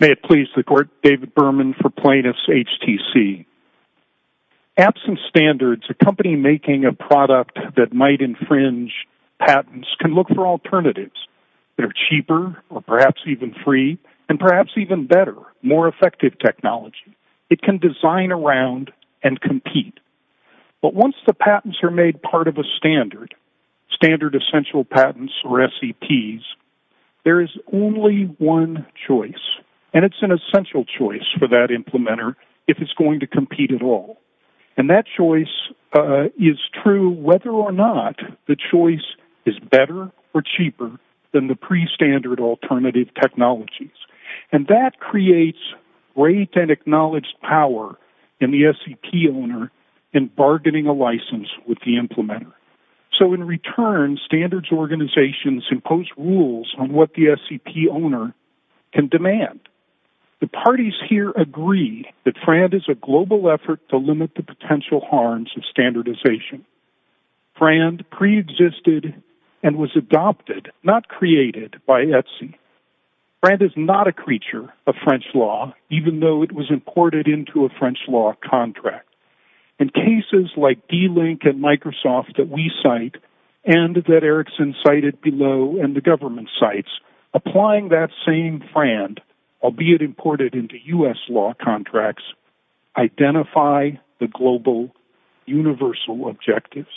May it please the court David Berman for plaintiffs HTC Absence standards a company making a product that might infringe Patents can look for alternatives They're cheaper or perhaps even free and perhaps even better more effective technology It can design around and compete But once the patents are made part of a standard standard essential patents or SEPs There is only one choice and it's an essential choice for that implementer if it's going to compete at all and that choice Is true whether or not the choice is better or cheaper than the pre standard alternative? technologies and that creates great and acknowledged power in the SEP owner in bargaining a license with the implementer So in return standards organizations impose rules on what the SEP owner can demand The parties here agree that Fran is a global effort to limit the potential harms of standardization Fran pre-existed and was adopted not created by Etsy Fran is not a creature of French law, even though it was imported into a French law contract in Cases like d-link and Microsoft that we cite and that Erickson cited below and the government sites Applying that same friend. I'll be it imported into u.s. Law contracts identify the global universal objectives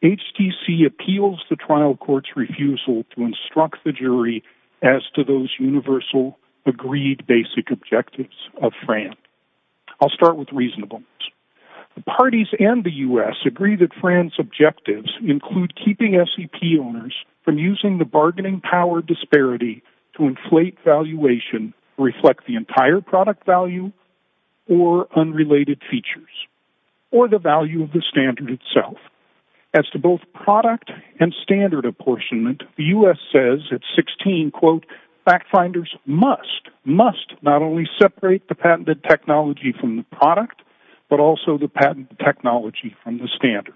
HTC appeals the trial courts refusal to instruct the jury as to those universal Agreed basic objectives of Fran. I'll start with reasonable The parties and the u.s. Agree that Fran's objectives include keeping SEP owners from using the bargaining power disparity to inflate valuation reflect the entire product value or unrelated features or the value of the standard itself as to both product and Standard apportionment the u.s. Says at 16 quote Fact-finders must must not only separate the patented technology from the product but also the patent technology from the standard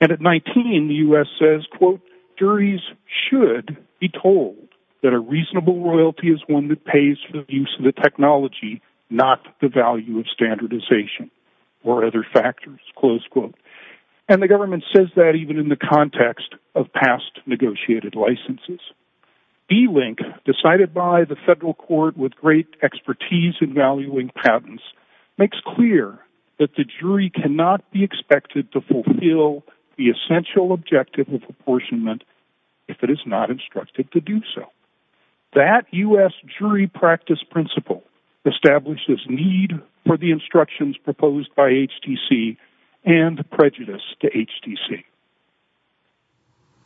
and At 19 the u.s. Says quote juries should be told that a reasonable Royalty is one that pays for the use of the technology not the value of standardization Or other factors close quote and the government says that even in the context of past negotiated licenses Delink decided by the federal court with great expertise in valuing patents Makes clear that the jury cannot be expected to fulfill the essential objective of apportionment If it is not instructed to do so that u.s. Jury practice principle Establishes need for the instructions proposed by HTC and the prejudice to HTC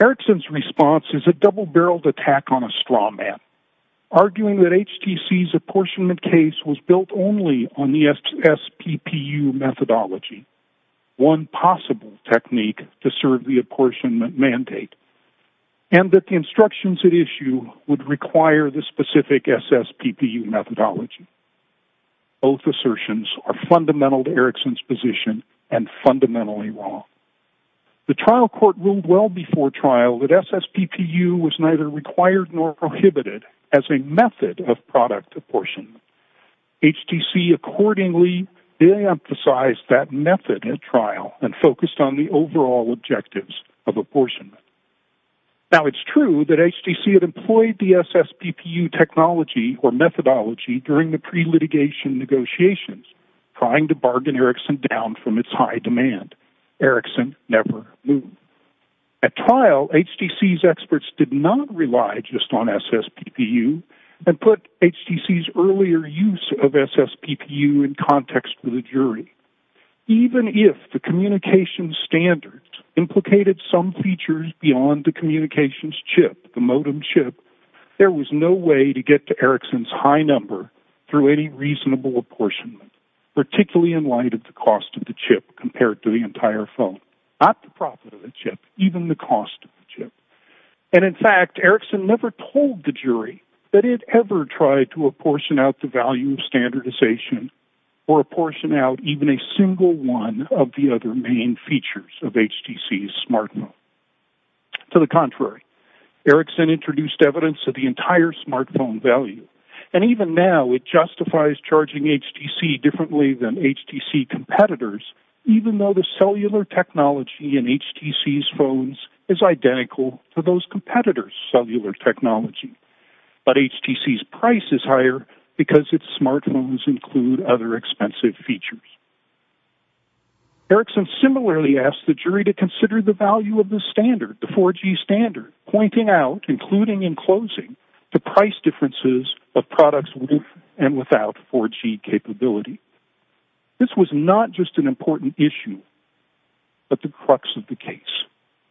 Erickson's response is a double-barreled attack on a straw man Arguing that HTC's apportionment case was built only on the SPP you methodology one possible technique to serve the apportionment mandate and That the instructions at issue would require the specific SS PPU methodology Both assertions are fundamental to Erickson's position and fundamentally wrong The trial court ruled well before trial that SS PPU was neither required nor prohibited as a method of product apportion HTC accordingly they emphasized that method at trial and focused on the overall objectives of apportionment Now it's true that HTC had employed the SS PPU technology or methodology during the pre litigation Negotiations trying to bargain Erickson down from its high demand Erickson never move at trial HTC's experts did not rely just on SS PPU and Put HTC's earlier use of SS PPU in context with a jury even if the communication standard Implicated some features beyond the communications chip the modem chip There was no way to get to Erickson's high number through any reasonable apportionment particularly in light of the cost of the chip compared to the entire phone not the profit of the chip even the cost of the chip and in fact Erickson never told the jury that it ever tried to apportion out the value of Standardization or apportion out even a single one of the other main features of HTC's smartphone to the contrary Erickson introduced evidence of the entire smartphone value and even now it justifies charging HTC differently than HTC competitors even though the cellular technology in HTC's phones is identical to those competitors cellular technology But HTC's price is higher because it's smartphones include other expensive features Erickson similarly asked the jury to consider the value of the standard the 4g standard pointing out including in closing The price differences of products with and without 4g capability this was not just an important issue, but the crux of the case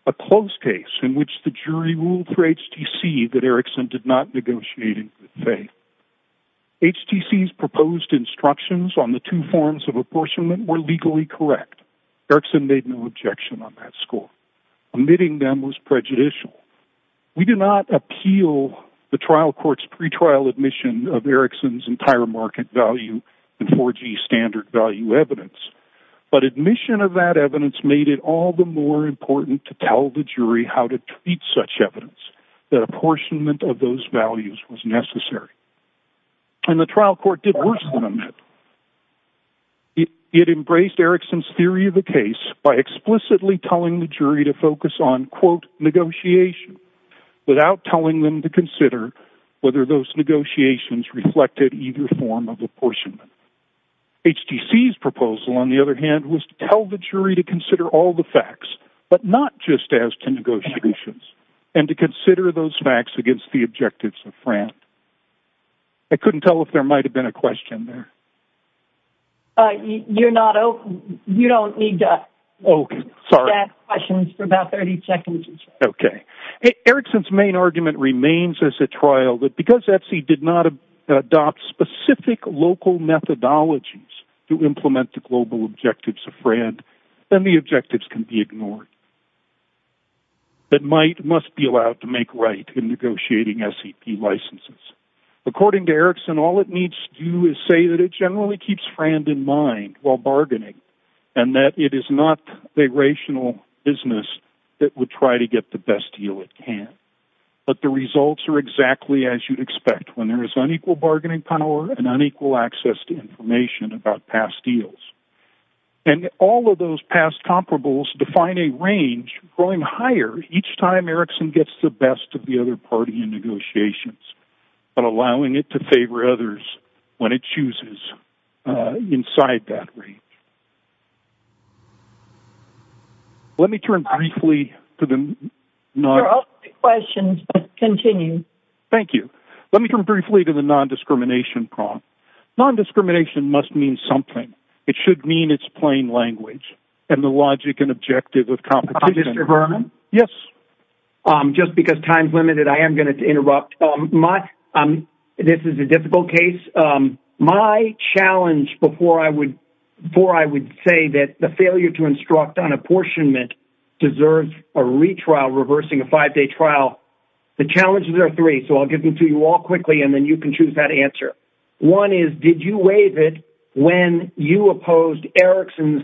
a close case in which the jury ruled for HTC that Erickson did not negotiate in faith HTC's proposed instructions on the two forms of apportionment were legally correct Erickson made no objection on that score Admitting them was prejudicial We do not appeal the trial courts pre-trial admission of Erickson's entire market value and 4g standard value evidence But admission of that evidence made it all the more important to tell the jury how to treat such evidence That apportionment of those values was necessary And the trial court did worse than that It it embraced Erickson's theory of the case by explicitly telling the jury to focus on quote negotiation without telling them to consider whether those negotiations reflected either form of apportionment HTC's proposal on the other hand was to tell the jury to consider all the facts But not just as to negotiations and to consider those facts against the objectives of fran I couldn't tell if there might have been a question there All right, you're not open. You don't need that. Okay. Sorry questions for about 30 seconds Okay Erickson's main argument remains as a trial that because Etsy did not adopt specific local Methodologies to implement the global objectives a friend then the objectives can be ignored That might must be allowed to make right in negotiating SCP licenses According to Erickson all it needs to do is say that it generally keeps friend in mind while bargaining and that it is not a Rational business that would try to get the best deal it can But the results are exactly as you'd expect when there is unequal bargaining power and unequal access to information about past deals And all of those past comparables define a range growing higher each time Erickson gets the best of the other party in Negotiations, but allowing it to favor others when it chooses inside that range Let me turn briefly to them No Questions continue. Thank you. Let me turn briefly to the non-discrimination prom Non-discrimination must mean something. It should mean it's plain language and the logic and objective of competition. Yes Just because time's limited I am going to interrupt my This is a difficult case My challenge before I would before I would say that the failure to instruct on apportionment Deserves a retrial reversing a five-day trial the challenges are three So I'll give them to you all quickly and then you can choose that answer one is did you waive it when you opposed? Erickson's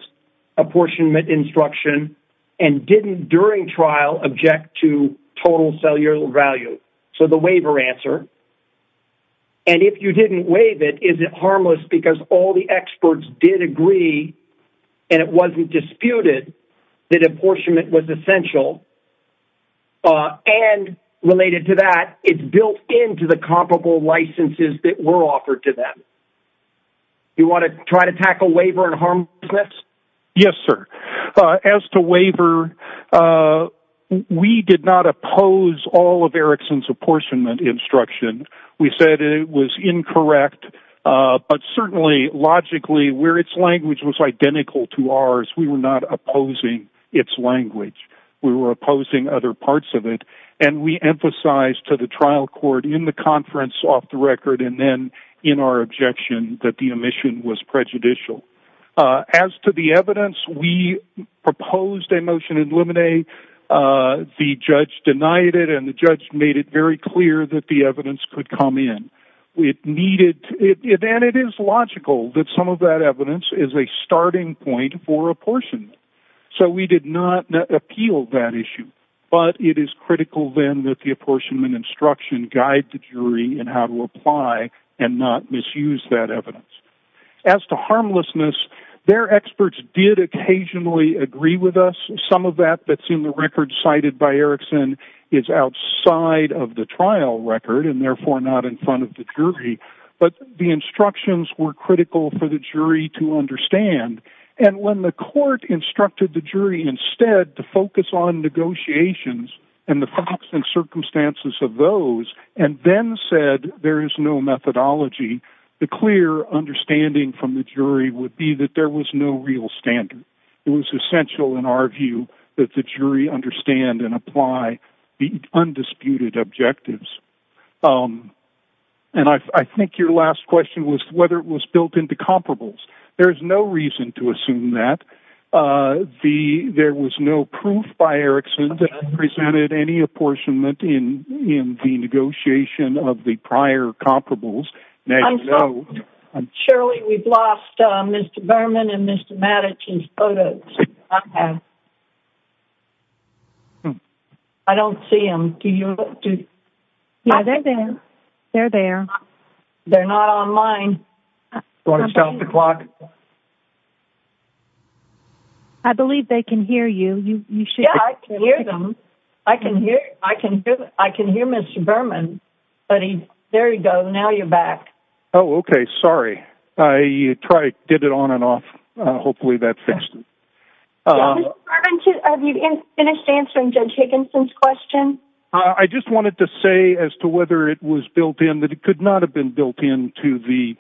Instruction and didn't during trial object to total cellular value. So the waiver answer and if you didn't waive it, is it harmless because all the experts did agree and It wasn't disputed that apportionment was essential And related to that it's built into the comparable licenses that were offered to them You want to try to tackle waiver and harm? Yes. Yes, sir as to waiver We did not oppose all of Erickson's apportionment instruction. We said it was incorrect But certainly logically where its language was identical to ours. We were not opposing its language We were opposing other parts of it and we emphasized to the trial court in the conference off the record and then in our objection that the omission was prejudicial as to the evidence we proposed a motion to eliminate The judge denied it and the judge made it very clear that the evidence could come in We needed it and it is logical that some of that evidence is a starting point for apportion So we did not appeal that issue But it is critical then that the apportionment instruction guide the jury and how to apply and not misuse that evidence As to harmlessness Their experts did occasionally agree with us some of that that's in the record cited by Erickson is Outside of the trial record and therefore not in front of the jury But the instructions were critical for the jury to understand and when the court instructed the jury instead to focus on Negotiations and the facts and circumstances of those and then said there is no methodology The clear Understanding from the jury would be that there was no real standard It was essential in our view that the jury understand and apply the undisputed objectives And I think your last question was whether it was built into comparables, there's no reason to assume that The there was no proof by Erickson that presented any apportionment in in the negotiation of the prior Comparables no Surely we've lost mr. Berman and mr. Maddox's photos I Don't see him do you Know they're there. They're there They're not online going to stop the clock I Believe they can hear you you should hear them. I can hear I can hear I can hear mr. Berman Buddy there you go. Now you're back. Oh, okay. Sorry. I try did it on and off. Hopefully that's To have you finished answering judge Hickinson's question I just wanted to say as to whether it was built in that it could not have been built in to the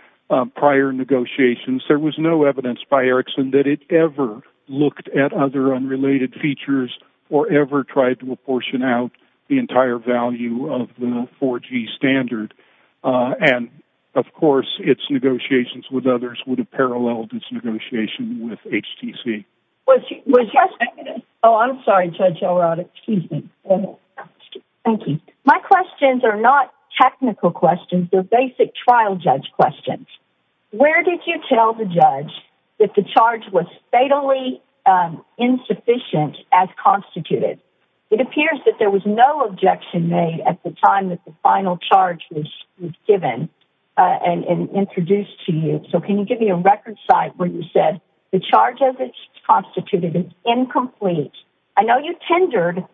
prior negotiations There was no evidence by Erickson that it ever Looked at other unrelated features or ever tried to apportion out the entire value of the 4g standard And of course, it's negotiations with others would have paralleled its negotiation with HTC I'm sorry, Judge. Oh, excuse me Thank you. My questions are not technical questions. They're basic trial judge questions Where did you tell the judge that the charge was fatally Insufficient as constituted it appears that there was no objection made at the time that the final charge was given And introduced to you. So can you give me a record site where you said the charge of its constituted is incomplete I know you tendered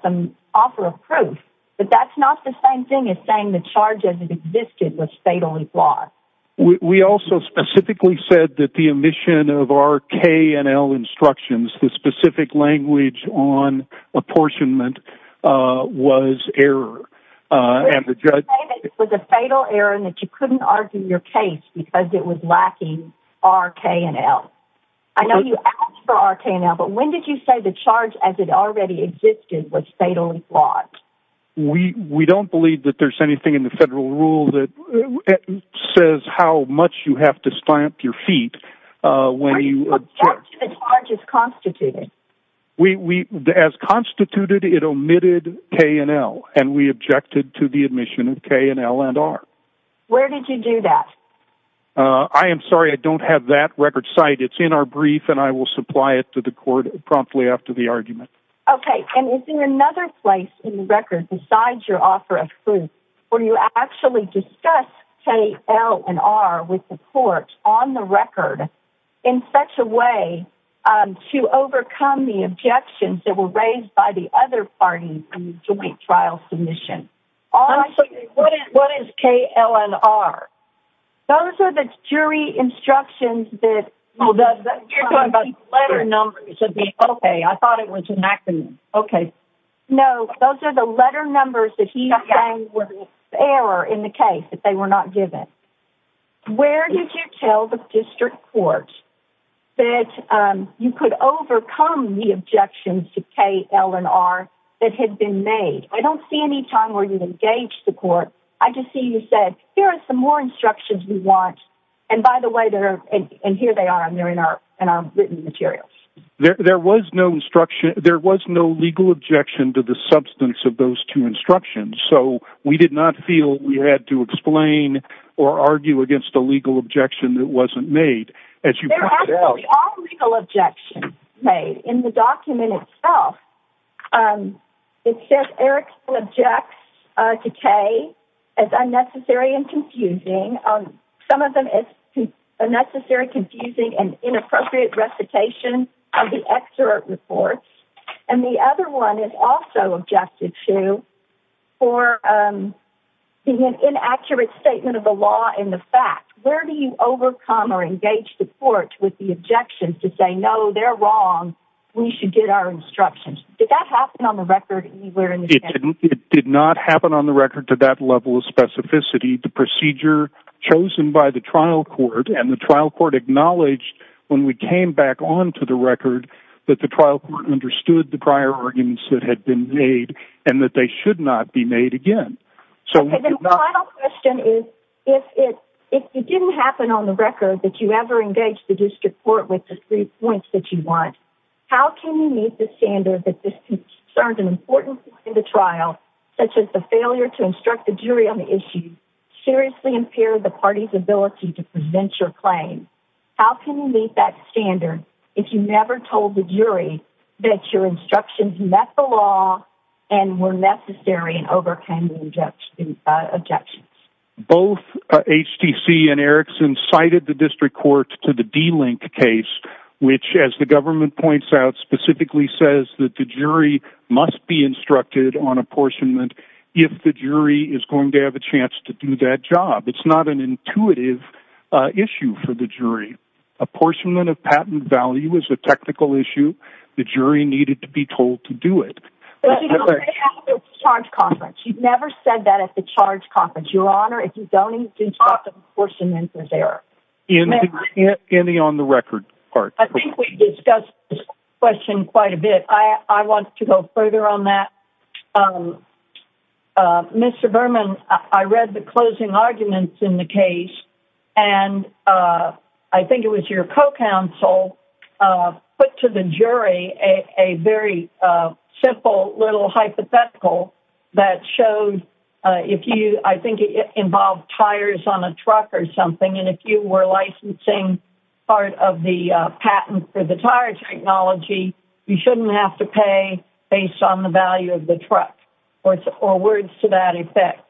Some offer of proof, but that's not the same thing as saying the charge as it existed was fatally flawed We also specifically said that the omission of our KNL instructions the specific language on apportionment was error And the judge it was a fatal error and that you couldn't argue your case because it was lacking RK and L. I know you asked for RK now, but when did you say the charge as it already existed was fatally flawed? We we don't believe that there's anything in the federal rule that Says how much you have to stamp your feet when you Constituted we we as constituted it omitted KNL and we objected to the admission of K and L and R Where did you do that? I? Am sorry, I don't have that record site It's in our brief and I will supply it to the court promptly after the argument Okay, and it's in another place in the record besides your offer of food Or you actually discuss K L and R with the court on the record in such a way To overcome the objections that were raised by the other party from the joint trial submission What is K L and R? Those are the jury instructions that well does that you're talking about letter numbers would be okay I thought it was an accident. Okay. No, those are the letter numbers that he was error in the case If they were not given Where did you tell the district court? That you could overcome the objections to K L and R that had been made I don't see any time where you engage the court. I just see you said here are some more instructions We want and by the way there and here they are and they're in our and our written materials There was no instruction there was no legal objection to the substance of those two instructions So we did not feel we had to explain or argue against a legal objection. That wasn't made as you Objection made in the document itself It says Eric objects to K as unnecessary and confusing Some of them is a necessary confusing and inappropriate Recitation of the excerpt reports and the other one is also objected to for The inaccurate statement of the law in the fact where do you overcome or engage the court with the objections to say? No, they're wrong. We should get our instructions. Did that happen on the record anywhere? And it did not happen on the record to that level of specificity the procedure Chosen by the trial court and the trial court acknowledged when we came back on to the record that the trial court understood the prior arguments that had been made and that they should not be made again, so If you didn't happen on the record that you ever engaged the district court with the three points that you want How can you meet the standard that this concerned an important in the trial such as the failure to instruct the jury on the issue? Seriously impaired the party's ability to prevent your claim How can you meet that standard if you never told the jury that your instructions met the law and were? necessary and overcame objections both HTC and Erickson cited the district court to the D link case Which as the government points out specifically says that the jury must be instructed on apportionment If the jury is going to have a chance to do that job, it's not an intuitive Issue for the jury apportionment of patent value is a technical issue. The jury needed to be told to do it Charge conference. You've never said that at the charge conference your honor if you don't Apportionment was there in it any on the record part. I think we discussed Question quite a bit. I want to go further on that Mr. Berman, I read the closing arguments in the case and I think it was your co-counsel put to the jury a very Simple little hypothetical that showed if you I think it involved tires on a truck or something And if you were licensing part of the patent for the tire technology You shouldn't have to pay based on the value of the truck or it's or words to that effect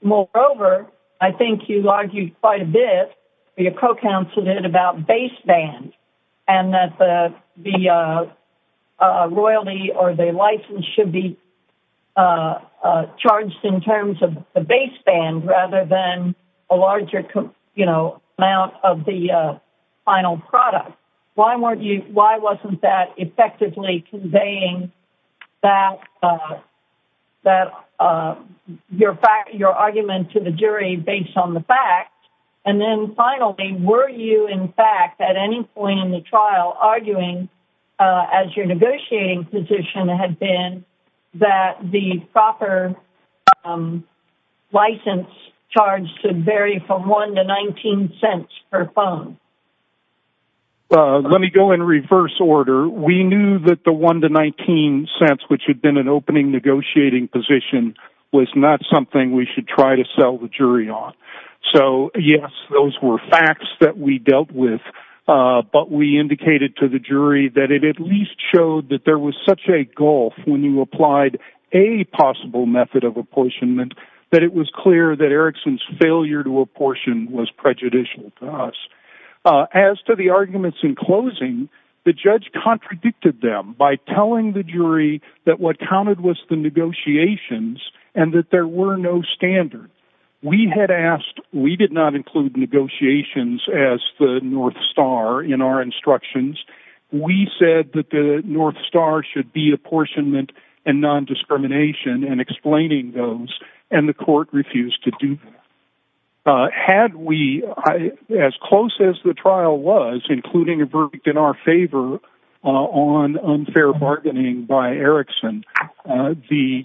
Moreover, I think you argued quite a bit your co-counsel did about baseband and that the the Royalty or the license should be Charged in terms of the baseband rather than a larger, you know amount of the Final product why weren't you why wasn't that effectively conveying that? that Your fact your argument to the jury based on the fact and then finally were you in fact at any point in the trial? Arguing as your negotiating position had been that the proper License charge should vary from 1 to 19 cents per phone Well, let me go in reverse order We knew that the 1 to 19 cents which had been an opening negotiating position Was not something we should try to sell the jury on so yes, those were facts that we dealt with but we indicated to the jury that it at least showed that there was such a gulf when you applied a Possible method of apportionment that it was clear that Erickson's failure to apportion was prejudicial to us as to the arguments in closing the judge contradicted them by telling the jury that what counted was the Negotiations and that there were no standard we had asked we did not include Negotiations as the North Star in our instructions We said that the North Star should be apportionment and non-discrimination And explaining those and the court refused to do Had we As close as the trial was including a verdict in our favor on unfair bargaining by Erickson the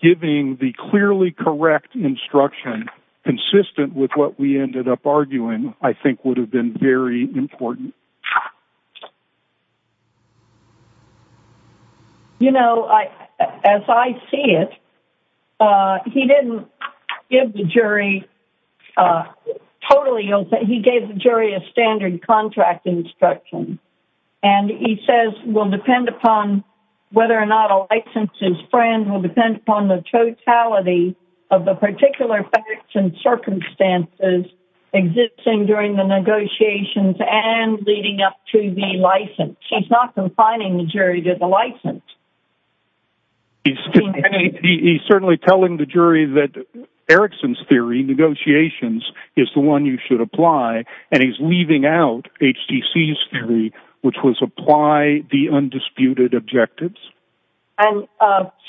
Giving the clearly correct instruction Consistent with what we ended up arguing. I think would have been very important You know I as I see it He didn't give the jury Totally open he gave the jury a standard contract instruction and he says will depend upon whether or not a Licenses friend will depend upon the totality of the particular facts and circumstances Existing during the negotiations and leading up to the license. She's not confining the jury to the license He's Certainly telling the jury that Erickson's theory negotiations is the one you should apply and he's leaving out HTC's theory which was apply the undisputed objectives and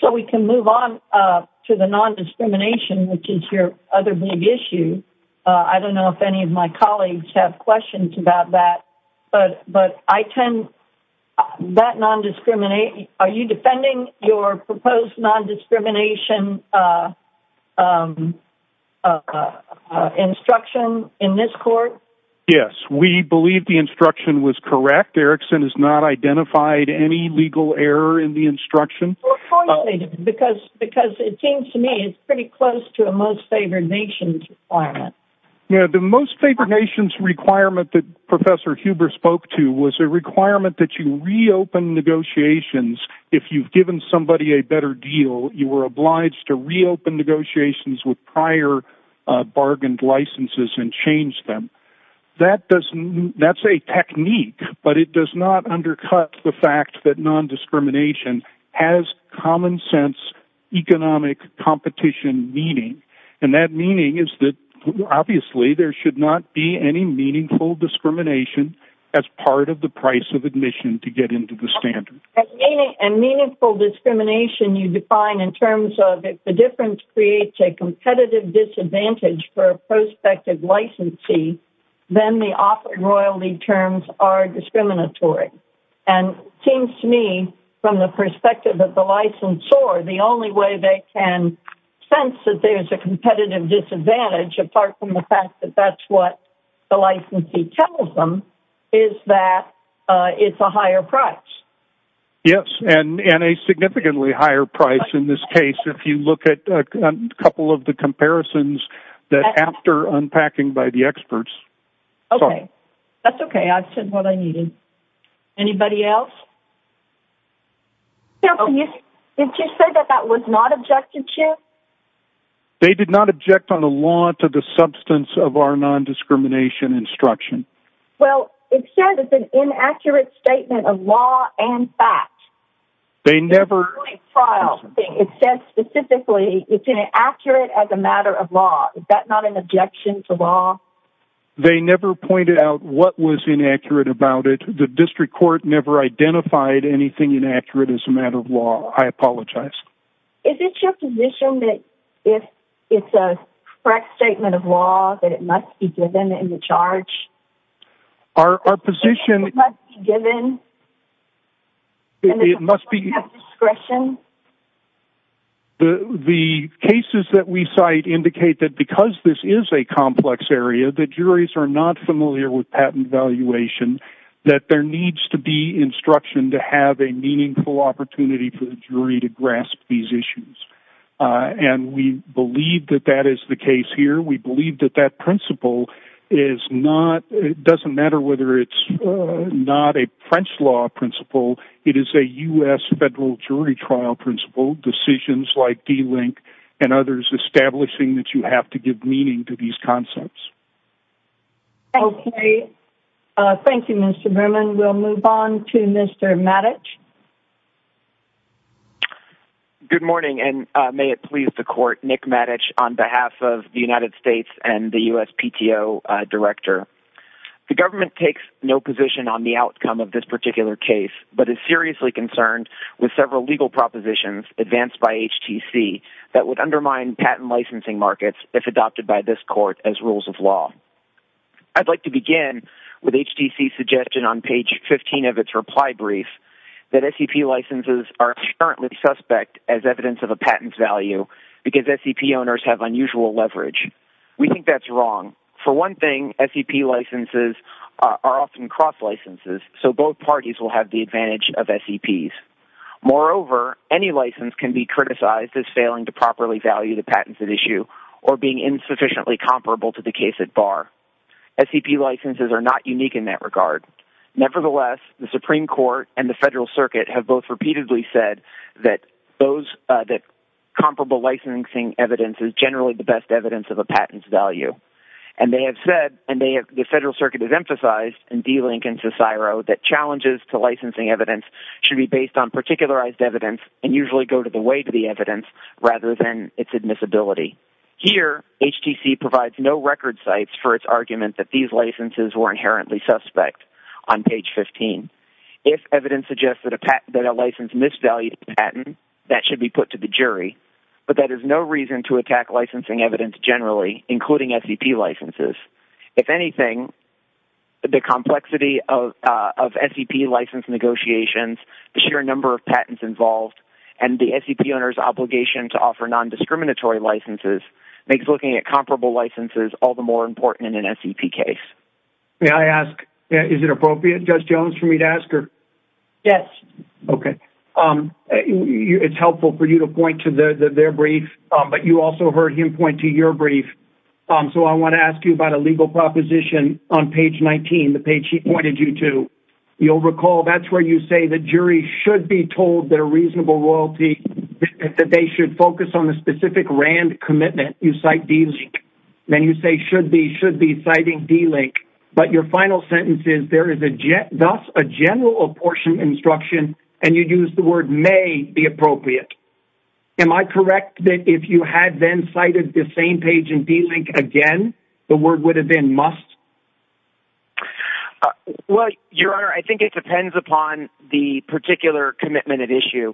So we can move on to the non-discrimination, which is your other big issue I don't know if any of my colleagues have questions about that, but but I tend That non-discriminate are you defending your proposed non-discrimination? Instruction in this court. Yes, we believe the instruction was correct Erickson has not identified any legal error in the instruction Because because it seems to me it's pretty close to a most favored nations climate You know the most favored nations requirement that professor Huber spoke to was a requirement that you reopen Negotiations if you've given somebody a better deal you were obliged to reopen negotiations with prior Bargained licenses and change them that doesn't that's a technique But it does not undercut the fact that non-discrimination has common sense Economic competition meaning and that meaning is that Obviously there should not be any meaningful Discrimination as part of the price of admission to get into the standard And meaningful discrimination you define in terms of if the difference creates a competitive disadvantage for a prospective licensee then the offer royalty terms are discriminatory and Seems to me from the perspective of the license or the only way they can Sense that there's a competitive disadvantage apart from the fact that that's what the licensee tells them is that It's a higher price Yes, and in a significantly higher price in this case if you look at a couple of the comparisons that After unpacking by the experts Okay, that's okay. I've said what I needed Anybody else No, you did you say that that was not objective chair They did not object on the law to the substance of our non-discrimination Instruction. Well, it says it's an inaccurate statement of law and fact They never Trial it says specifically it's inaccurate as a matter of law. Is that not an objection to law? They never pointed out what was inaccurate about it the district court never identified anything inaccurate as a matter of law I apologize if it's your position that if it's a correct statement of law that it must be given in the charge our position given It must be discretion The Cases that we cite indicate that because this is a complex area the juries are not familiar with patent evaluation That there needs to be instruction to have a meaningful opportunity for the jury to grasp these issues And we believe that that is the case here. We believe that that principle is Not it doesn't matter whether it's not a French law principle It is a u.s. Federal jury trial principle decisions like d-link and others Establishing that you have to give meaning to these concepts Okay, thank you, mr. Berman we'll move on to mr. Maddox Good morning, and may it please the court Nick Maddox on behalf of the United States and the USPTO director The government takes no position on the outcome of this particular case but is seriously concerned with several legal propositions advanced by HTC that would undermine patent licensing markets if Adopted by this court as rules of law I'd like to begin with HTC suggestion on page 15 of its reply brief That SEP licenses are currently suspect as evidence of a patent value because SEP owners have unusual leverage We think that's wrong for one thing SEP licenses are often cross licenses So both parties will have the advantage of SEPs Moreover any license can be criticized as failing to properly value the patents at issue or being insufficiently comparable to the case at bar SEP licenses are not unique in that regard Nevertheless the Supreme Court and the Federal Circuit have both repeatedly said that those that Comparable licensing evidence is generally the best evidence of a patents value and They have said and they have the Federal Circuit is emphasized in D Lincoln Cicero that challenges to licensing evidence should be based on particularized evidence and usually go to the way to the evidence Rather than its admissibility Here HTC provides no record sites for its argument that these licenses were inherently suspect on page 15 If evidence suggests that a patent that a license misvalued patent that should be put to the jury But that is no reason to attack licensing evidence generally including SEP licenses if anything the complexity of SEP license negotiations the sheer number of patents involved and the SEP owners obligation to offer non-discriminatory Licenses makes looking at comparable licenses all the more important in an SEP case May I ask is it appropriate judge Jones for me to ask her yes, okay It's helpful for you to point to the their brief, but you also heard him point to your brief So I want to ask you about a legal proposition on page 19 the page She pointed you to you'll recall that's where you say the jury should be told their reasonable royalty That they should focus on the specific RAND commitment You cite these then you say should be should be citing D link But your final sentence is there is a jet thus a general portion instruction and you use the word may be appropriate Am I correct that if you had then cited the same page and D link again the word would have been must What your honor I think it depends upon the particular commitment at issue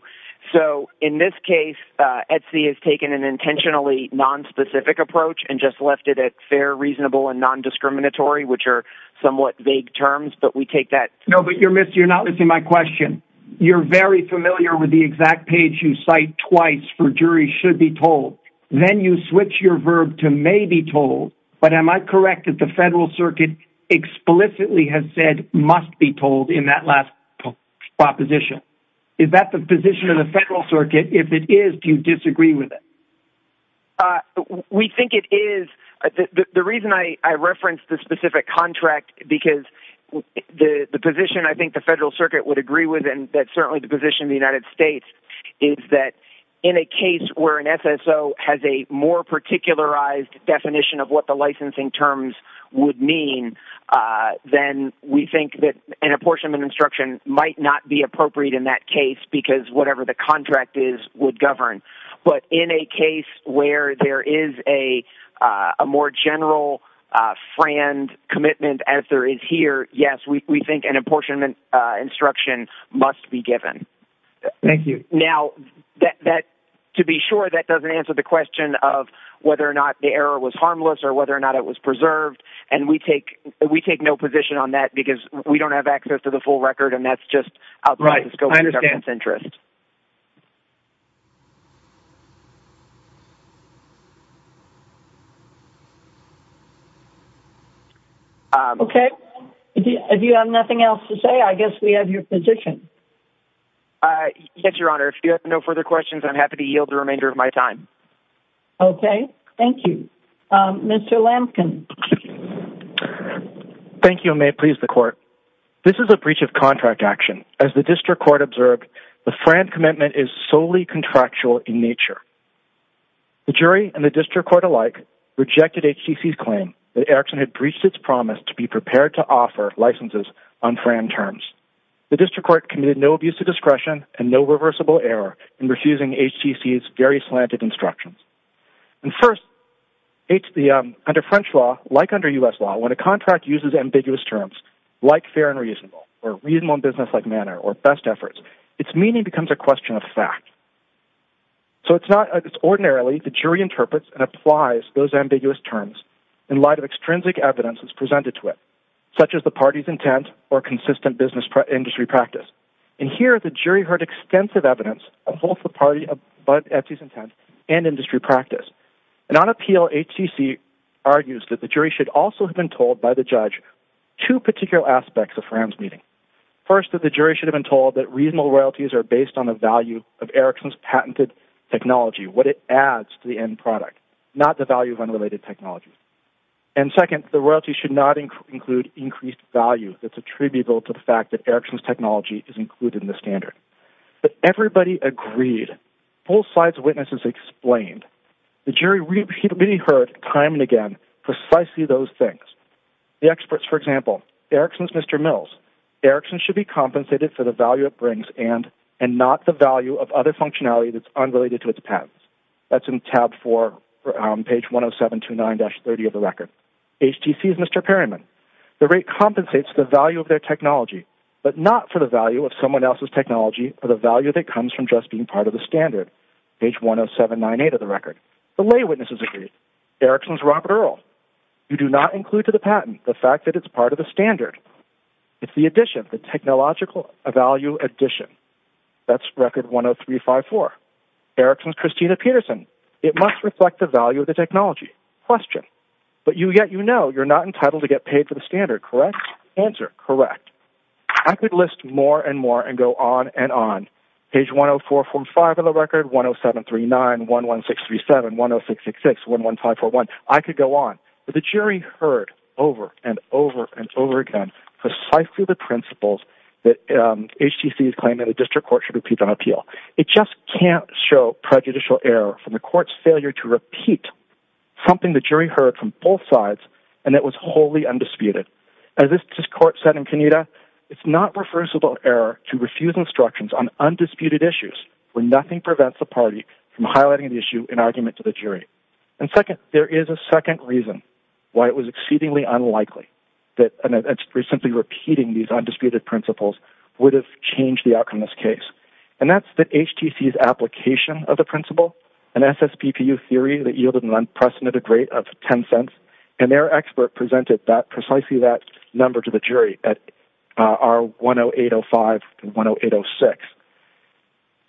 So in this case Etsy has taken an intentionally Nonspecific approach and just left it at fair reasonable and non-discriminatory which are somewhat vague terms But we take that no, but you're missing you're not missing my question You're very familiar with the exact page you cite twice for jury should be told Then you switch your verb to may be told but am I correct that the Federal Circuit? Explicitly has said must be told in that last Proposition is that the position of the Federal Circuit if it is do you disagree with it? We think it is the reason I referenced the specific contract because The the position I think the Federal Circuit would agree with and that's certainly the position the United States Is that in a case where an SSO has a more particularized definition of what the licensing terms would mean? Then we think that an apportionment instruction might not be appropriate in that case because whatever the contract is would govern but in a case where there is a more general Friend commitment as there is here. Yes, we think an apportionment instruction must be given Thank you. Now that To be sure that doesn't answer the question of whether or not the error was harmless or whether or not it was preserved And we take we take no position on that because we don't have access to the full record and that's just right Let's go. I understand centrist Okay, if you have nothing else to say I guess we have your position Yes, Your Honor. If you have no further questions, I'm happy to yield the remainder of my time Okay. Thank you Mr. Lampkin Thank you may please the court This is a breach of contract action as the district court observed. The friend commitment is solely contractual in nature The jury and the district court alike Rejected HTC's claim that Erickson had breached its promise to be prepared to offer licenses on Fran terms The district court committed no abuse of discretion and no reversible error in refusing HTC's very slanted instructions And first It's the under French law like under US law when a contract uses ambiguous terms Like fair and reasonable or reasonable business-like manner or best efforts. It's meaning becomes a question of fact So it's not ordinarily the jury interprets and applies those ambiguous terms in light of extrinsic evidence is presented to it Such as the party's intent or consistent business industry practice and here the jury heard extensive evidence Both the party of but at least intent and industry practice and on appeal HTC Argues that the jury should also have been told by the judge to particular aspects of friends meeting First of the jury should have been told that reasonable royalties are based on the value of Erickson's patented technology what it adds to the end product not the value of unrelated technologies and Second the royalty should not include increased value that's attributable to the fact that Erickson's technology is included in the standard But everybody agreed full-size witnesses explained the jury repeatedly heard time and again precisely those things The experts for example Erickson's Mr. Mills Erickson should be compensated for the value it brings and and not the value of other functionality that's unrelated to its patents That's in tab 4 around page 107 to 9-30 of the record HTC's Mr. The rate compensates the value of their technology But not for the value of someone else's technology for the value that comes from just being part of the standard Page 107 98 of the record the lay witnesses agreed Erickson's Robert Earl you do not include to the patent the fact that it's part of the standard It's the addition of the technological a value addition That's record one of three five four Erickson's Christina Peterson it must reflect the value of the technology question But you get you know, you're not entitled to get paid for the standard correct answer correct I could list more and more and go on and on page 104 45 of the record 107 39 11637 1066 1154 1 I could go on but the jury heard over and over and over again precisely the principles that HTC's claim in the district court should repeat on appeal. It just can't show prejudicial error from the court's failure to repeat Something the jury heard from both sides and it was wholly undisputed and this just court said in Kenyatta It's not reversible error to refuse instructions on Undisputed issues when nothing prevents the party from highlighting the issue in argument to the jury and second There is a second reason why it was exceedingly unlikely that and it's recently repeating these undisputed principles would have changed the outcome this case and that's that HTC's Complication of the principle and that's that's PPU theory that yielded an unprecedented rate of 10 cents and their expert presented that precisely that number to the jury at our 10805 and 10806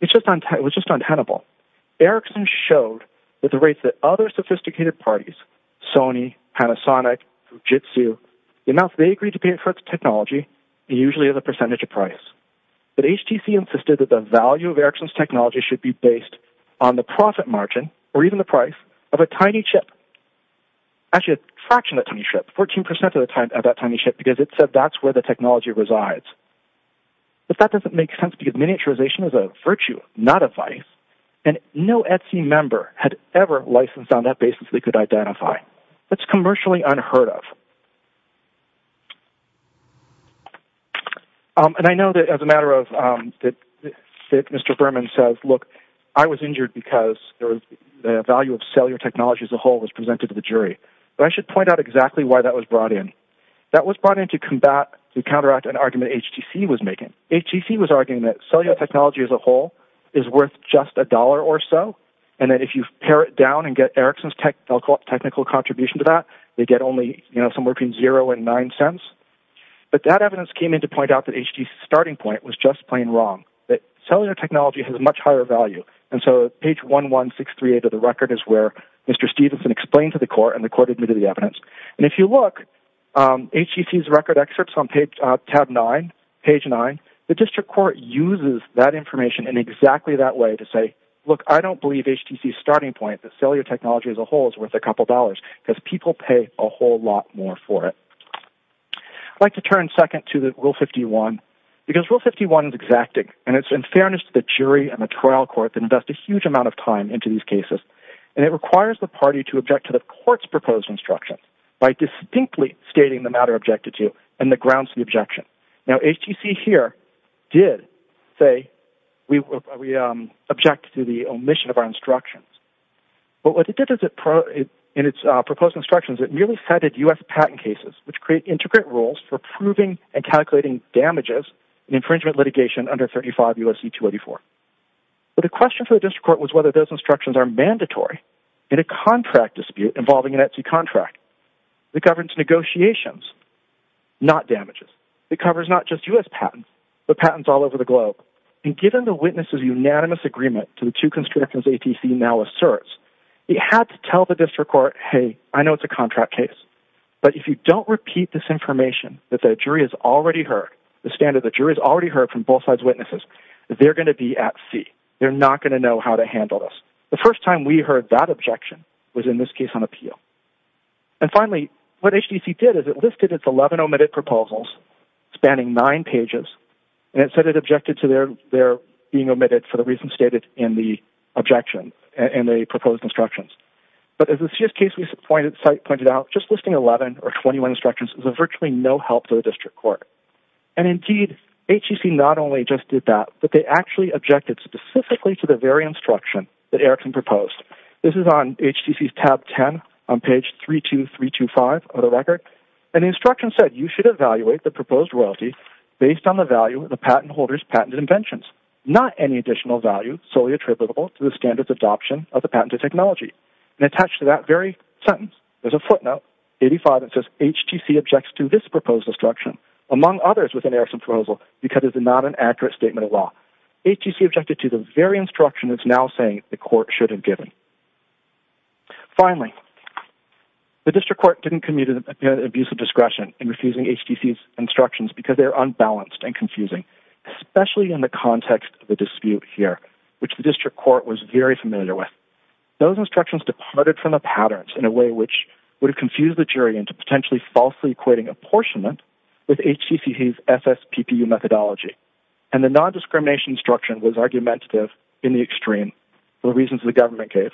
It's just on time. It was just untenable Erickson showed that the rates that other sophisticated parties Sony Panasonic Usually as a percentage of price But HTC insisted that the value of Erickson's technology should be based on the profit margin or even the price of a tiny chip Actually a fraction that tiny ship 14% of the time about tiny ship because it said that's where the technology resides But that doesn't make sense because miniaturization is a virtue not a vice and no Etsy member had ever Licensed on that basis. They could identify that's commercially unheard of And I know that as a matter of Mr. Berman says look I was injured because there was the value of cellular technologies The whole was presented to the jury, but I should point out exactly why that was brought in That was brought in to combat to counteract an argument HTC was making HTC was arguing that cellular technology as a whole is Worth just a dollar or so and that if you tear it down and get Erickson's tech I'll call technical contribution to that they get only, you know, some working zero and nine cents But that evidence came in to point out that HTC starting point was just plain wrong that cellular technology has a much higher value And so page one one six three eight of the record is where mr. Stevenson explained to the court and the court admitted the evidence and if you look HTC's record excerpts on page tab nine page nine The district court uses that information in exactly that way to say look I don't believe HTC starting point that cellular technology as a whole is worth a couple dollars because people pay a whole lot more for I'd like to turn second to the rule 51 Because rule 51 is exacting and it's in fairness to the jury and the trial court to invest a huge amount of time into these Cases and it requires the party to object to the court's proposed instructions By distinctly stating the matter objected to and the grounds to the objection now HTC here did say We object to the omission of our instructions But what it did is it pro in its proposed instructions It nearly headed u.s. Patent cases which create intricate rules for proving and calculating damages an infringement litigation under 35 u.s. e2 84 But the question for the district court was whether those instructions are mandatory in a contract dispute involving an Etsy contract the governance negotiations Not damages it covers not just u.s Patents all over the globe and given the witnesses unanimous agreement to the two constrictors ATC now asserts You have to tell the district court. Hey, I know it's a contract case But if you don't repeat this information that the jury has already heard the standard the jury's already heard from both sides witnesses They're going to be at sea. They're not going to know how to handle this the first time we heard that objection was in this case on appeal and Finally what HTC did is it listed its 11 omitted proposals? Spanning nine pages and it said it objected to their they're being omitted for the reason stated in the objection And they proposed instructions but as a just case we pointed site pointed out just listing 11 or 21 instructions is a virtually no help to the district court and Indeed HTC not only just did that but they actually objected specifically to the very instruction that Erickson proposed This is on HTC tab 10 on page 3 2 3 2 5 of the record An instruction said you should evaluate the proposed royalty based on the value of the patent holders patented inventions Not any additional value solely attributable to the standards adoption of the patented technology and attached to that very sentence There's a footnote 85. It says HTC objects to this proposed instruction Among others with an Erickson proposal because it's not an accurate statement of law HTC objected to the very instruction is now saying the court should have given Finally The district court didn't commute an abusive discretion in refusing HTC's instructions because they're unbalanced and confusing Especially in the context of the dispute here, which the district court was very familiar with Those instructions departed from the patterns in a way which would have confused the jury into potentially falsely equating apportionment With HTC's FF PPU methodology and the non-discrimination instruction was argumentative in the extreme For the reasons the government gave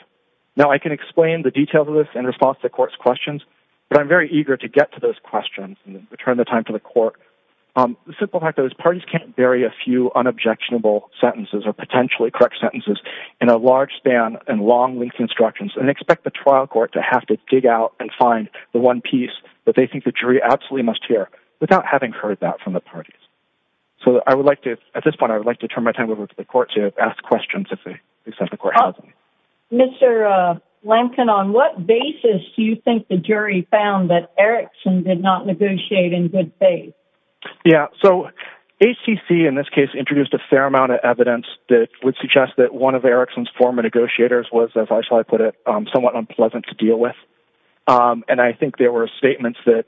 now I can explain the details of this in response to court's questions But I'm very eager to get to those questions and return the time to the court The simple fact those parties can't bury a few unobjectionable sentences or potentially correct sentences in a large span and long-length instructions and expect the trial court to have to dig out and Find the one piece that they think the jury absolutely must hear without having heard that from the parties So I would like to at this point, I would like to turn my time over to the court to ask questions if they Mr. Lampkin on what basis do you think the jury found that Erickson did not negotiate in good faith? Yeah, so HTC in this case introduced a fair amount of evidence that would suggest that one of Erickson's former negotiators was as I put it somewhat unpleasant to deal with And I think there were statements that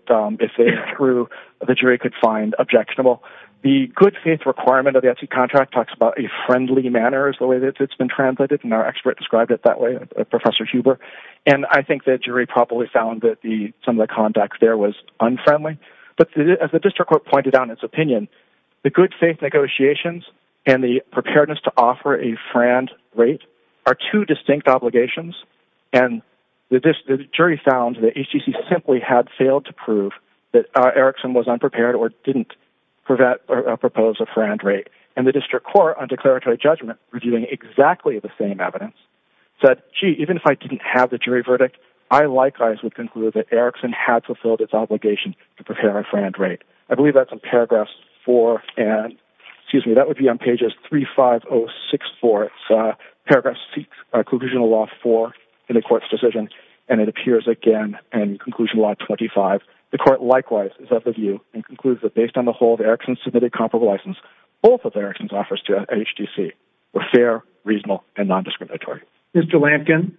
grew the jury could find objectionable the good faith requirement of the FT contract talks about a Friendly manner is the way that it's been translated and our expert described it that way Professor Huber and I think that jury probably found that the some of the conduct there was unfriendly But as the district court pointed on its opinion the good faith negotiations and the preparedness to offer a friend rate are two distinct obligations and The jury found that HTC simply had failed to prove that Erickson was unprepared or didn't Prevent or propose a friend rate and the district court on declaratory judgment reviewing exactly the same evidence Said gee even if I didn't have the jury verdict I likewise would conclude that Erickson had fulfilled its obligation to prepare a friend rate. I believe that's in paragraphs 4 and Excuse me. That would be on pages 3 5 0 6 4 Paragraphs seeks a conclusional law for in the court's decision and it appears again and conclusion Law 25 the court likewise is of the view and concludes that based on the whole of Erickson submitted comparable license Both of Erickson's offers to HTC were fair reasonable and non-discriminatory Mr. Lampkin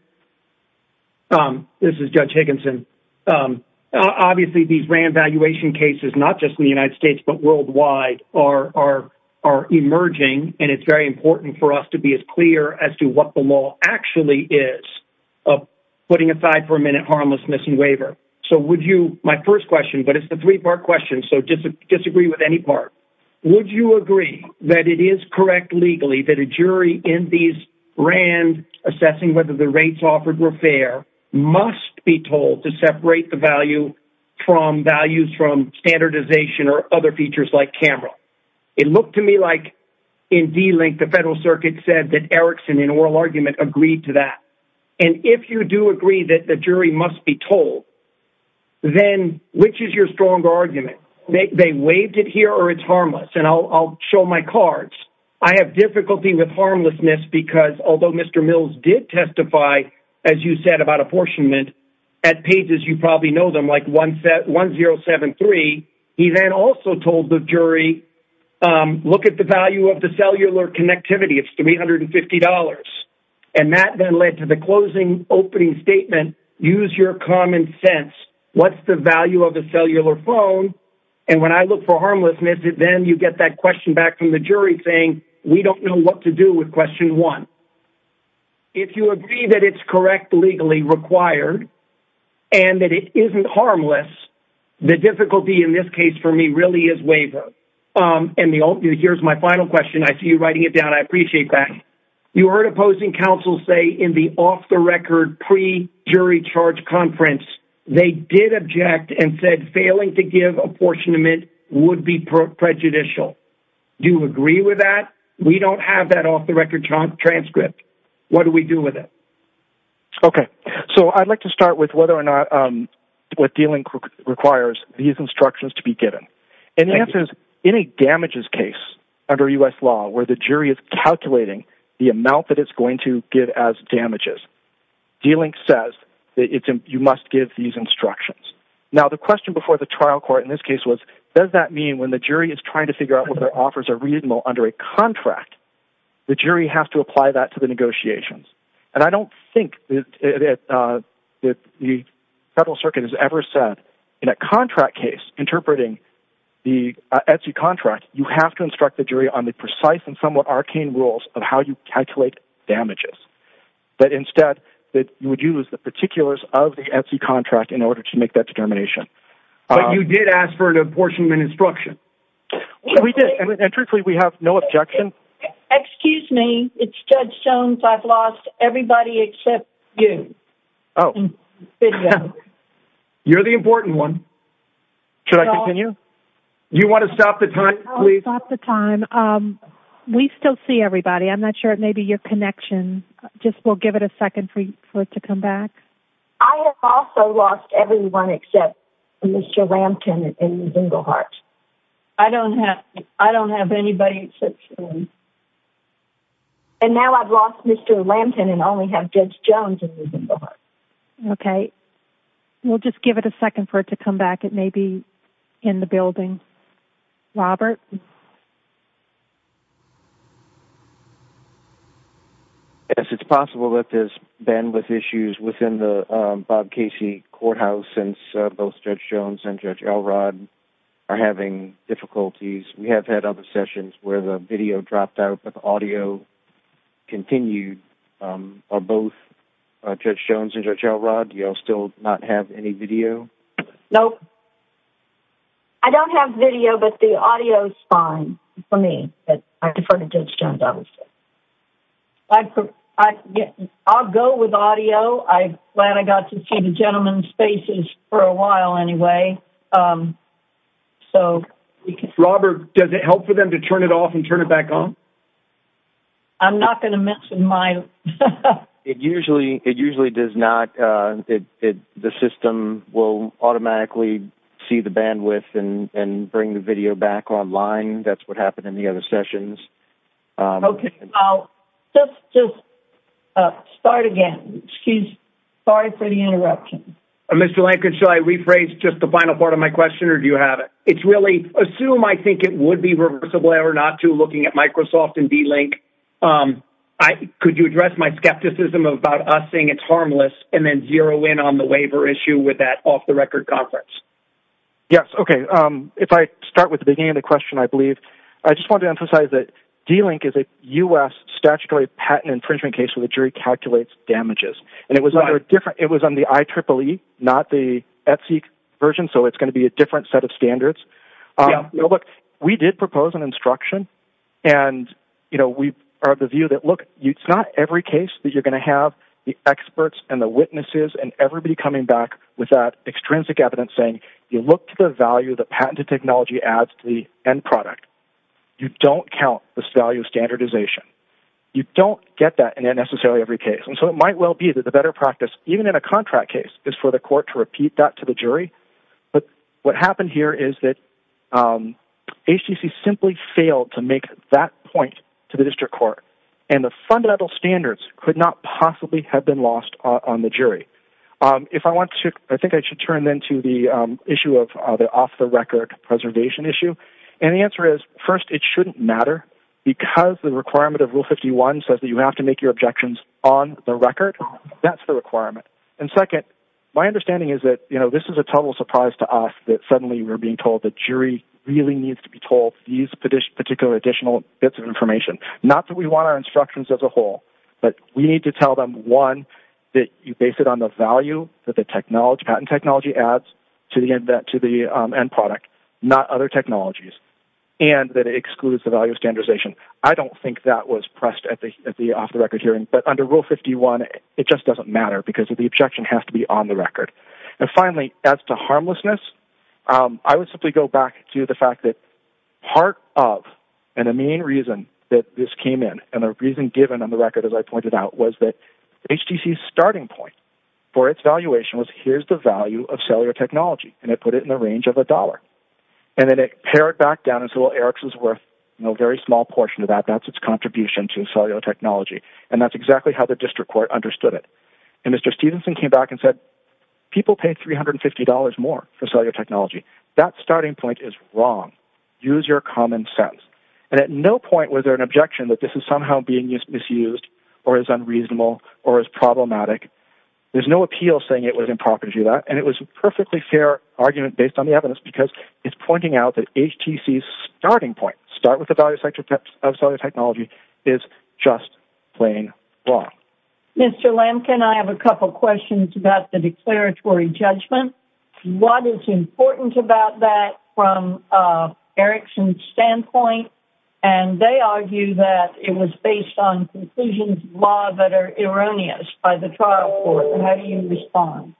This is judge Higginson Obviously these ran valuation cases not just in the United States but worldwide are are are emerging and it's very important for us to be as clear as to what the law actually is of Putting aside for a minute harmless missing waiver. So would you my first question, but it's the three-part question So just disagree with any part. Would you agree that it is correct legally that a jury in these? Rand assessing whether the rates offered were fair must be told to separate the value From values from standardization or other features like camera it looked to me like in d-link the Federal Circuit said that Erickson in oral argument agreed to that and If you do agree that the jury must be told Then which is your strong argument make they waived it here or it's harmless and I'll show my cards I have difficulty with harmlessness because although mr Mills did testify as you said about apportionment at pages you probably know them like one set one zero seven three He then also told the jury Look at the value of the cellular connectivity It's three hundred and fifty dollars and that then led to the closing opening statement use your common sense What's the value of a cellular phone? And when I look for harmlessness it then you get that question back from the jury saying we don't know what to do with question one if you agree that it's correct legally required and That it isn't harmless The difficulty in this case for me really is waiver And the old dude, here's my final question. I see you writing it down I appreciate that you heard opposing counsel say in the off-the-record Pre-jury charge conference. They did object and said failing to give apportionment would be Prejudicial do you agree with that? We don't have that off-the-record job transcript. What do we do with it? Okay, so I'd like to start with whether or not What dealing requires these instructions to be given and answers any damages case under US law where the jury is? Calculating the amount that it's going to give as damages Dealing says it's and you must give these instructions Now the question before the trial court in this case was does that mean when the jury is trying to figure out what their offers Are reasonable under a contract? the jury has to apply that to the negotiations and I don't think That the Federal Circuit has ever said in a contract case interpreting The Etsy contract you have to instruct the jury on the precise and somewhat arcane rules of how you calculate damages That instead that you would use the particulars of the Etsy contract in order to make that determination You did ask for an apportionment instruction We did and truthfully we have no objection Excuse me. It's judge Jones. I've lost everybody except you. Oh You're the important one Should I continue? You want to stop the time? Stop the time We still see everybody. I'm not sure it may be your connection. Just we'll give it a second for you for it to come back I have also lost everyone except mr. Lampkin in the heart. I don't have I don't have anybody And now I've lost mr. Lambton and only have judge Jones in the heart, okay We'll just give it a second for it to come back. It may be in the building Robert Yes, it's possible that there's bandwidth issues within the Bob Casey Courthouse since both judge Jones and judge Elrod are having difficulties. We have had other sessions where the video dropped out but the audio continued Are both judge Jones and judge Elrod. You'll still not have any video. Nope. I Have video but the audio is fine for me, but I prefer to judge Jones. I was Like I get I'll go with audio. I glad I got to see the gentleman's faces for a while anyway So Robert does it help for them to turn it off and turn it back on I'm not going to mention mine It usually it usually does not The system will automatically see the bandwidth and and bring the video back online That's what happened in the other sessions okay, I'll just Start again. Excuse. Sorry for the interruption. I'm mr. Lankin So I rephrase just the final part of my question or do you have it? It's really assume I think it would be reversible error not to looking at Microsoft and D-link I Could you address my skepticism about us saying it's harmless and then zero in on the waiver issue with that off-the-record conference? Yes, okay. If I start with the beginning of the question, I believe I just want to emphasize that D-link is a u.s Statutory patent infringement case with a jury calculates damages and it was not a different It was on the IEEE not the Etsy version. So it's going to be a different set of standards look, we did propose an instruction and you know, we are the view that look it's not every case that you're going to have the experts and the witnesses and everybody Coming back with that extrinsic evidence saying you look to the value the patented technology adds to the end product You don't count this value standardization You don't get that in a necessarily every case and so it might well be that the better practice even in a contract case is For the court to repeat that to the jury, but what happened here is that? HTC simply failed to make that point to the district court and the fundamental standards could not possibly have been lost on the jury If I want to I think I should turn then to the issue of other off-the-record Preservation issue and the answer is first It shouldn't matter because the requirement of rule 51 says that you have to make your objections on the record That's the requirement and second my understanding is that you know This is a total surprise to us that suddenly we're being told the jury Really needs to be told these particular additional bits of information not that we want our instructions as a whole But we need to tell them one that you base it on the value that the technology patent technology adds To the end that to the end product not other technologies and that it excludes the value of standardization I don't think that was pressed at the off-the-record hearing but under rule 51 It just doesn't matter because of the objection has to be on the record and finally as to harmlessness I would simply go back to the fact that part of and a main reason that this came in and a reason given on the record as I pointed out was that HTC starting point for its valuation was here's the value of cellular technology and it put it in the range of a dollar and Then it pared back down as well. Eric's is worth no very small portion of that That's its contribution to cellular technology and that's exactly how the district court understood it and mr. Stevenson came back and said people paid three hundred and fifty dollars more for cellular technology that starting point is wrong Use your common sense and at no point was there an objection that this is somehow being misused or is unreasonable or is problematic There's no appeal saying it was improper to do that and it was a perfectly fair argument based on the evidence because it's pointing out HTC's starting point start with the value sector types of cellular technology is just plain wrong Mr. Lamb, can I have a couple questions about the declaratory judgment? What is important about that from? Erickson standpoint and they argue that it was based on conclusions law that are erroneous By the trial for how do you respond?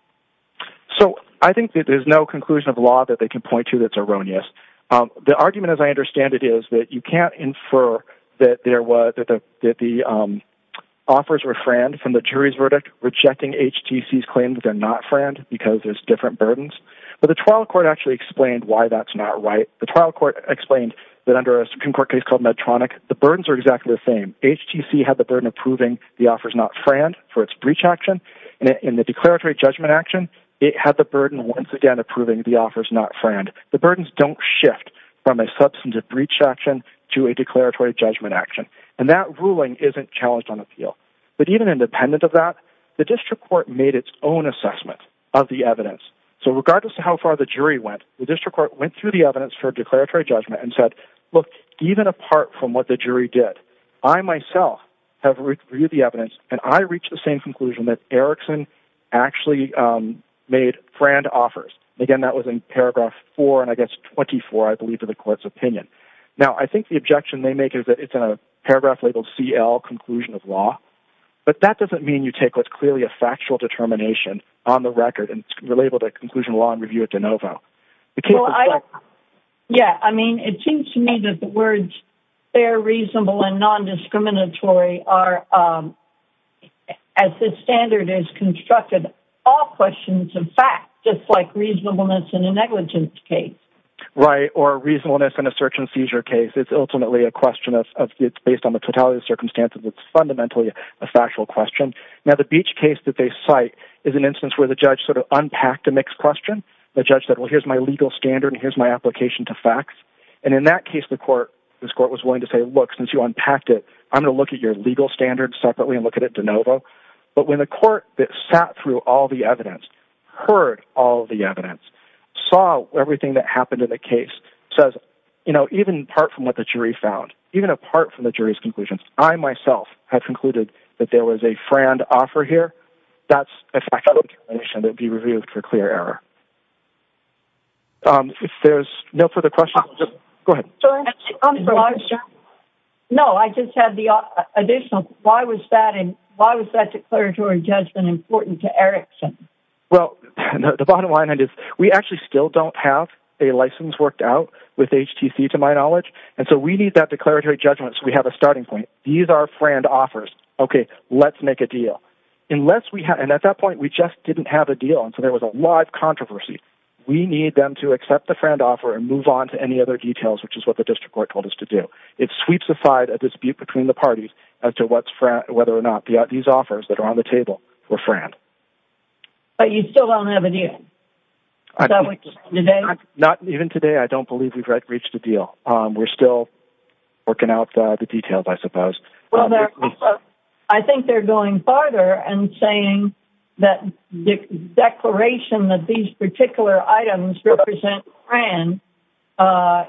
So I think that there's no conclusion of law that they can point to that's erroneous the argument as I understand it is that you can't infer that there was that the Offers were friend from the jury's verdict rejecting HTC's claimed They're not friend because there's different burdens But the trial court actually explained why that's not right the trial court explained that under a Supreme Court case called Medtronic The burdens are exactly the same HTC had the burden of proving the offers not friend for its breach action In the declaratory judgment action It had the burden once again approving the offers not friend the burdens don't shift from a substantive breach action To a declaratory judgment action and that ruling isn't challenged on appeal But even independent of that the district court made its own assessment of the evidence So regardless to how far the jury went the district court went through the evidence for declaratory judgment and said look Even apart from what the jury did I myself Have read through the evidence and I reached the same conclusion that Erickson actually Made friend offers again. That was in paragraph four and I guess 24, I believe to the court's opinion now I think the objection they make is that it's a paragraph labeled CL conclusion of law But that doesn't mean you take what's clearly a factual determination on the record and relabeled a conclusion law and review it to know about Yeah, I mean it seems to me that the words They're reasonable and nondiscriminatory are As the standard is constructed all questions in fact, just like reasonableness in a negligence case Right or reasonableness in a search and seizure case. It's ultimately a question of it's based on the totality of circumstances It's fundamentally a factual question Now the beach case that they cite is an instance where the judge sort of unpacked a mixed question the judge said well My legal standard here's my application to facts and in that case the court this court was willing to say look since you unpacked it I'm gonna look at your legal standards separately and look at it de novo But when the court that sat through all the evidence heard all the evidence Saw everything that happened in the case says, you know Even apart from what the jury found even apart from the jury's conclusions I myself have concluded that there was a friend offer here. That's a fact that would be reviewed for clear error If there's no further questions No, I just had the additional why was that and why was that declaratory judgment important to Erickson? Well, the bottom line is we actually still don't have a license worked out with HTC to my knowledge And so we need that declaratory judgment. So we have a starting point. These are friend offers. Okay, let's make a deal Unless we have and at that point we just didn't have a deal until there was a live controversy We need them to accept the friend offer and move on to any other details which is what the district court told us to do it sweeps aside a Dispute between the parties as to what's frat whether or not these offers that are on the table were friend But you still don't have a deal That was today not even today. I don't believe we've reached a deal. We're still Working out the details. I suppose. Well, I think they're going farther and saying that Declaration that these particular items represent friend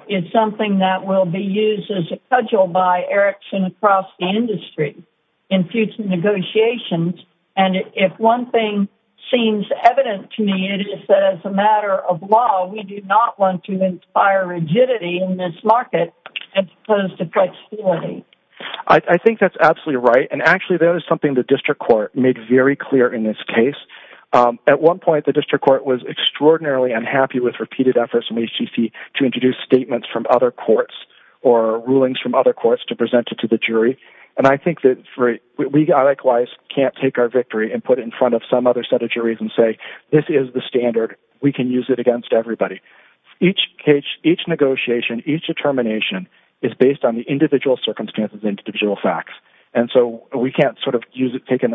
It's something that will be used as a cudgel by Erickson across the industry in future negotiations And if one thing seems evident to me, it is as a matter of law We do not want to inspire rigidity in this market as opposed to flexibility I think that's absolutely right. And actually there is something the district court made very clear in this case at one point the district court was extraordinarily unhappy with repeated efforts and HCC to introduce statements from other courts or rulings from other courts to present it to the jury and I think that We got likewise can't take our victory and put it in front of some other set of juries and say this is the standard We can use it against everybody each cage each negotiation each determination is based on the individual circumstances Individual facts and so we can't sort of use it taken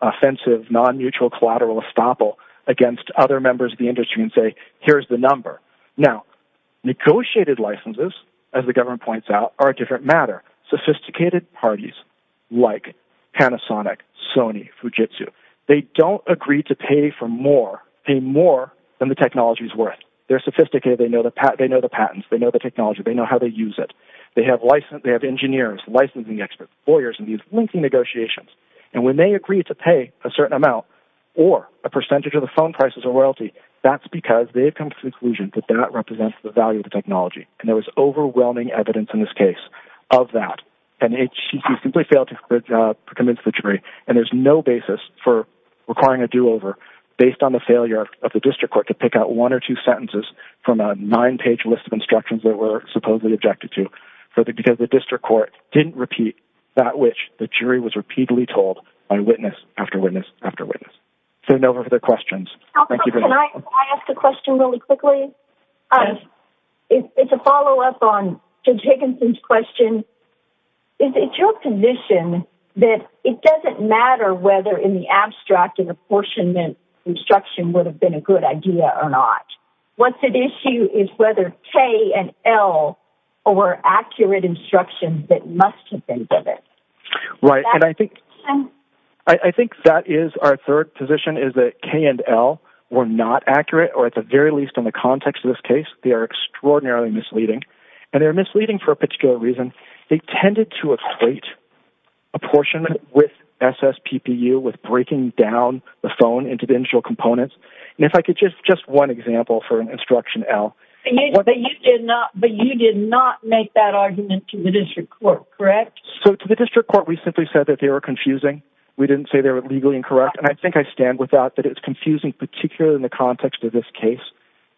Offensive non-mutual collateral estoppel against other members of the industry and say here's the number now Negotiated licenses as the government points out are a different matter sophisticated parties like Panasonic Sony Fujitsu, they don't agree to pay for more pay more than the technology's worth. They're sophisticated They know the pat they know the patents. They know the technology. They know how they use it They have license they have engineers licensing expert lawyers and these linking negotiations And when they agree to pay a certain amount or a percentage of the phone prices or royalty That's because they've come to the conclusion that that represents the value of the technology and there was overwhelming evidence in this case of that and HCC simply failed to commit to the jury and there's no basis for Requiring a do-over based on the failure of the district court to pick out one or two sentences From a nine-page list of instructions that were supposedly objected to for the because the district court didn't repeat That which the jury was repeatedly told by witness after witness after witness turn over for the questions the question really quickly It's a follow-up on to Jigginson's question Is it your condition that it doesn't matter whether in the abstract and apportionment? Instruction would have been a good idea or not What's an issue is whether K and L or accurate instructions that must have been given? right, and I think I Think that is our third position is that K and L were not accurate or at the very least on the context of this case They are extraordinarily misleading and they're misleading for a particular reason. They tended to equate a Components and if I could just just one example for an instruction L But you did not make that argument to the district court, correct? So to the district court, we simply said that they were confusing We didn't say they were legally incorrect And I think I stand with that that it's confusing particularly in the context of this case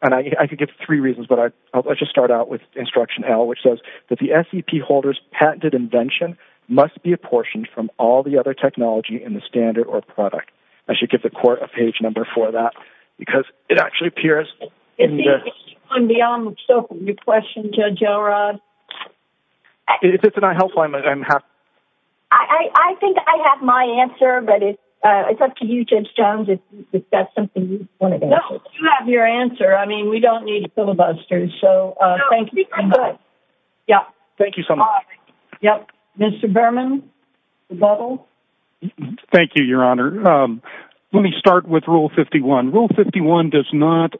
and I could give three reasons But I just start out with instruction L which says that the FEP holders patented invention Must be apportioned from all the other technology in the standard or product I should give the court a page number for that because it actually appears on the question If it's not helpful, I'm happy I Think I have my answer, but it it's up to you James Jones. If that's something you want to know you have your answer I mean, we don't need filibusters. So thank you Yeah, thank you so much, yep, mr. Berman bubble Thank you, your honor Let me start with rule 51 rule 51 does not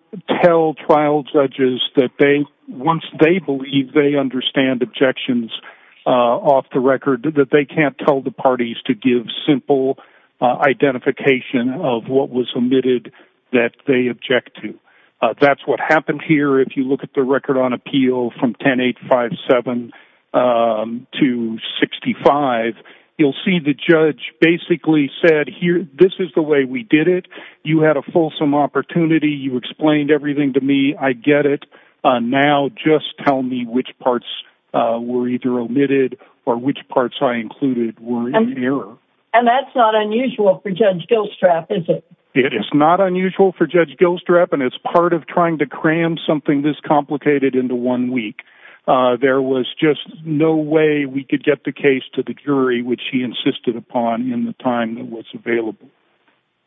tell trial judges that they once they believe they understand objections Off the record that they can't tell the parties to give simple Identification of what was omitted that they object to that's what happened here If you look at the record on appeal from 10 8 5 7 to 65 you'll see the judge basically said here. This is the way we did it. You had a fulsome opportunity You explained everything to me. I get it now just tell me which parts Were either omitted or which parts I included were in error and that's not unusual for judge Gilstrap and it's part of trying to cram something this complicated into one week There was just no way we could get the case to the jury which he insisted upon in the time that was available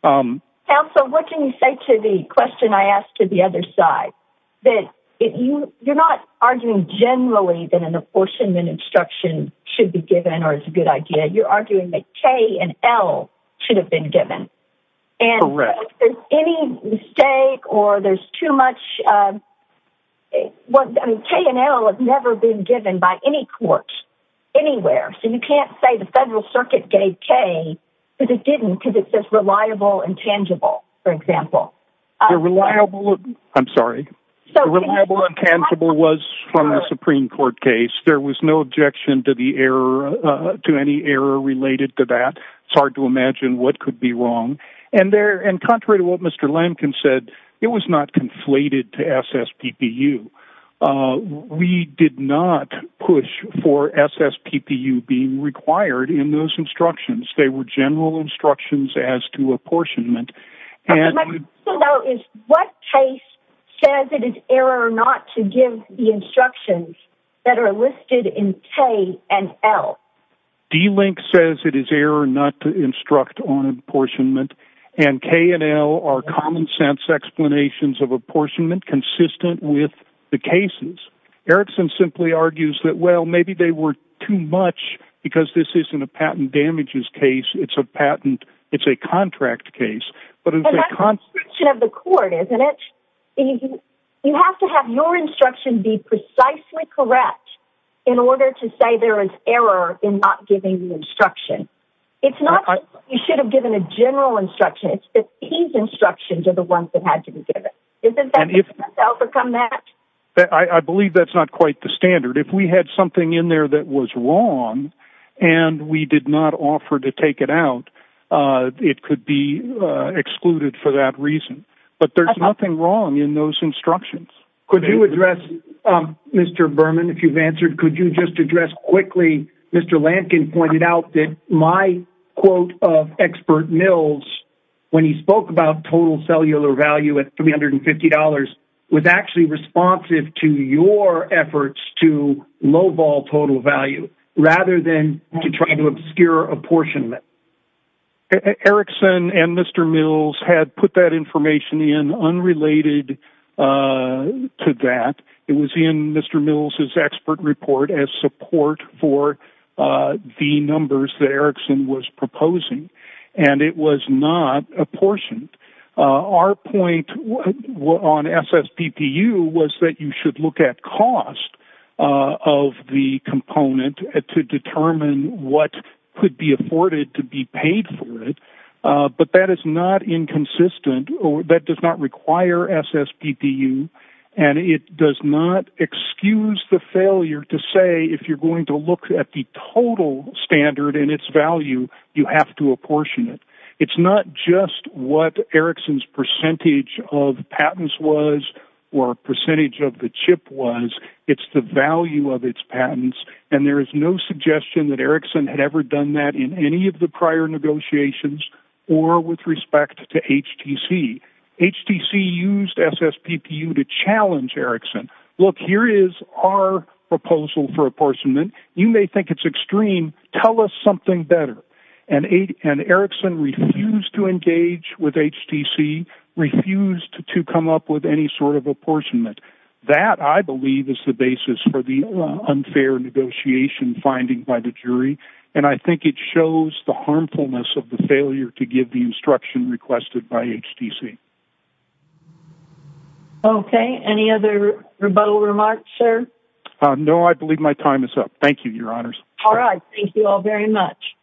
Also, what can you say to the question I asked to the other side that if you you're not arguing generally Then an apportionment instruction should be given or it's a good idea. You're arguing that K and L should have been given Correct any mistake or there's too much What I mean K and L have never been given by any court Anywhere, so you can't say the Federal Circuit gave K, but it didn't because it says reliable and tangible for example Reliable, I'm sorry Reliable and tangible was from the Supreme Court case. There was no objection to the error To any error related to that, it's hard to imagine what could be wrong and there and contrary to what mr Lampkin said it was not conflated to SS PPU We did not push for SS PPU being required in those instructions They were general instructions as to apportionment What case says it is error or not to give the instructions that are listed in K and L D-link says it is error not to instruct on apportionment and K and L are common-sense explanations of apportionment consistent with the cases Erickson simply argues that well, maybe they were too much because this isn't a patent damages case. It's a patent It's a contract case, but it's a constriction of the court, isn't it? You have to have your instruction be precisely correct in order to say there is error in not giving the instruction It's not you should have given a general instruction It's that these instructions are the ones that had to be given Isn't that you've overcome that I believe that's not quite the standard if we had something in there that was wrong And we did not offer to take it out It could be Excluded for that reason, but there's nothing wrong in those instructions. Could you address? Mr. Berman, if you've answered, could you just address quickly? Mr. Lankin pointed out that my quote of expert Mills when he spoke about total cellular value at $350 was actually responsive to your efforts to lowball total value rather than to try to obscure apportionment Erickson and mr. Mills had put that information in unrelated To that it was in. Mr. Mills is expert report as support for The numbers that Erickson was proposing and it was not apportioned Our point what on SS PPU was that you should look at cost Of the component to determine what could be afforded to be paid for it But that is not inconsistent That does not require SS PPU and it does not Excuse the failure to say if you're going to look at the total standard in its value You have to apportion it It's not just what Erickson's percentage of patents was or a percentage of the chip was It's the value of its patents and there is no suggestion that Erickson had ever done that in any of the prior negotiations or with respect to HTC HTC used SS PPU to challenge Erickson. Look here is our proposal for apportionment You may think it's extreme tell us something better and a and Erickson refused to engage with HTC Refused to come up with any sort of apportionment that I believe is the basis for the unfair Negotiation finding by the jury and I think it shows the harmfulness of the failure to give the instruction requested by HTC Okay, any other rebuttal remarks sir, no, I believe my time is up. Thank you your honors. All right. Thank you all very much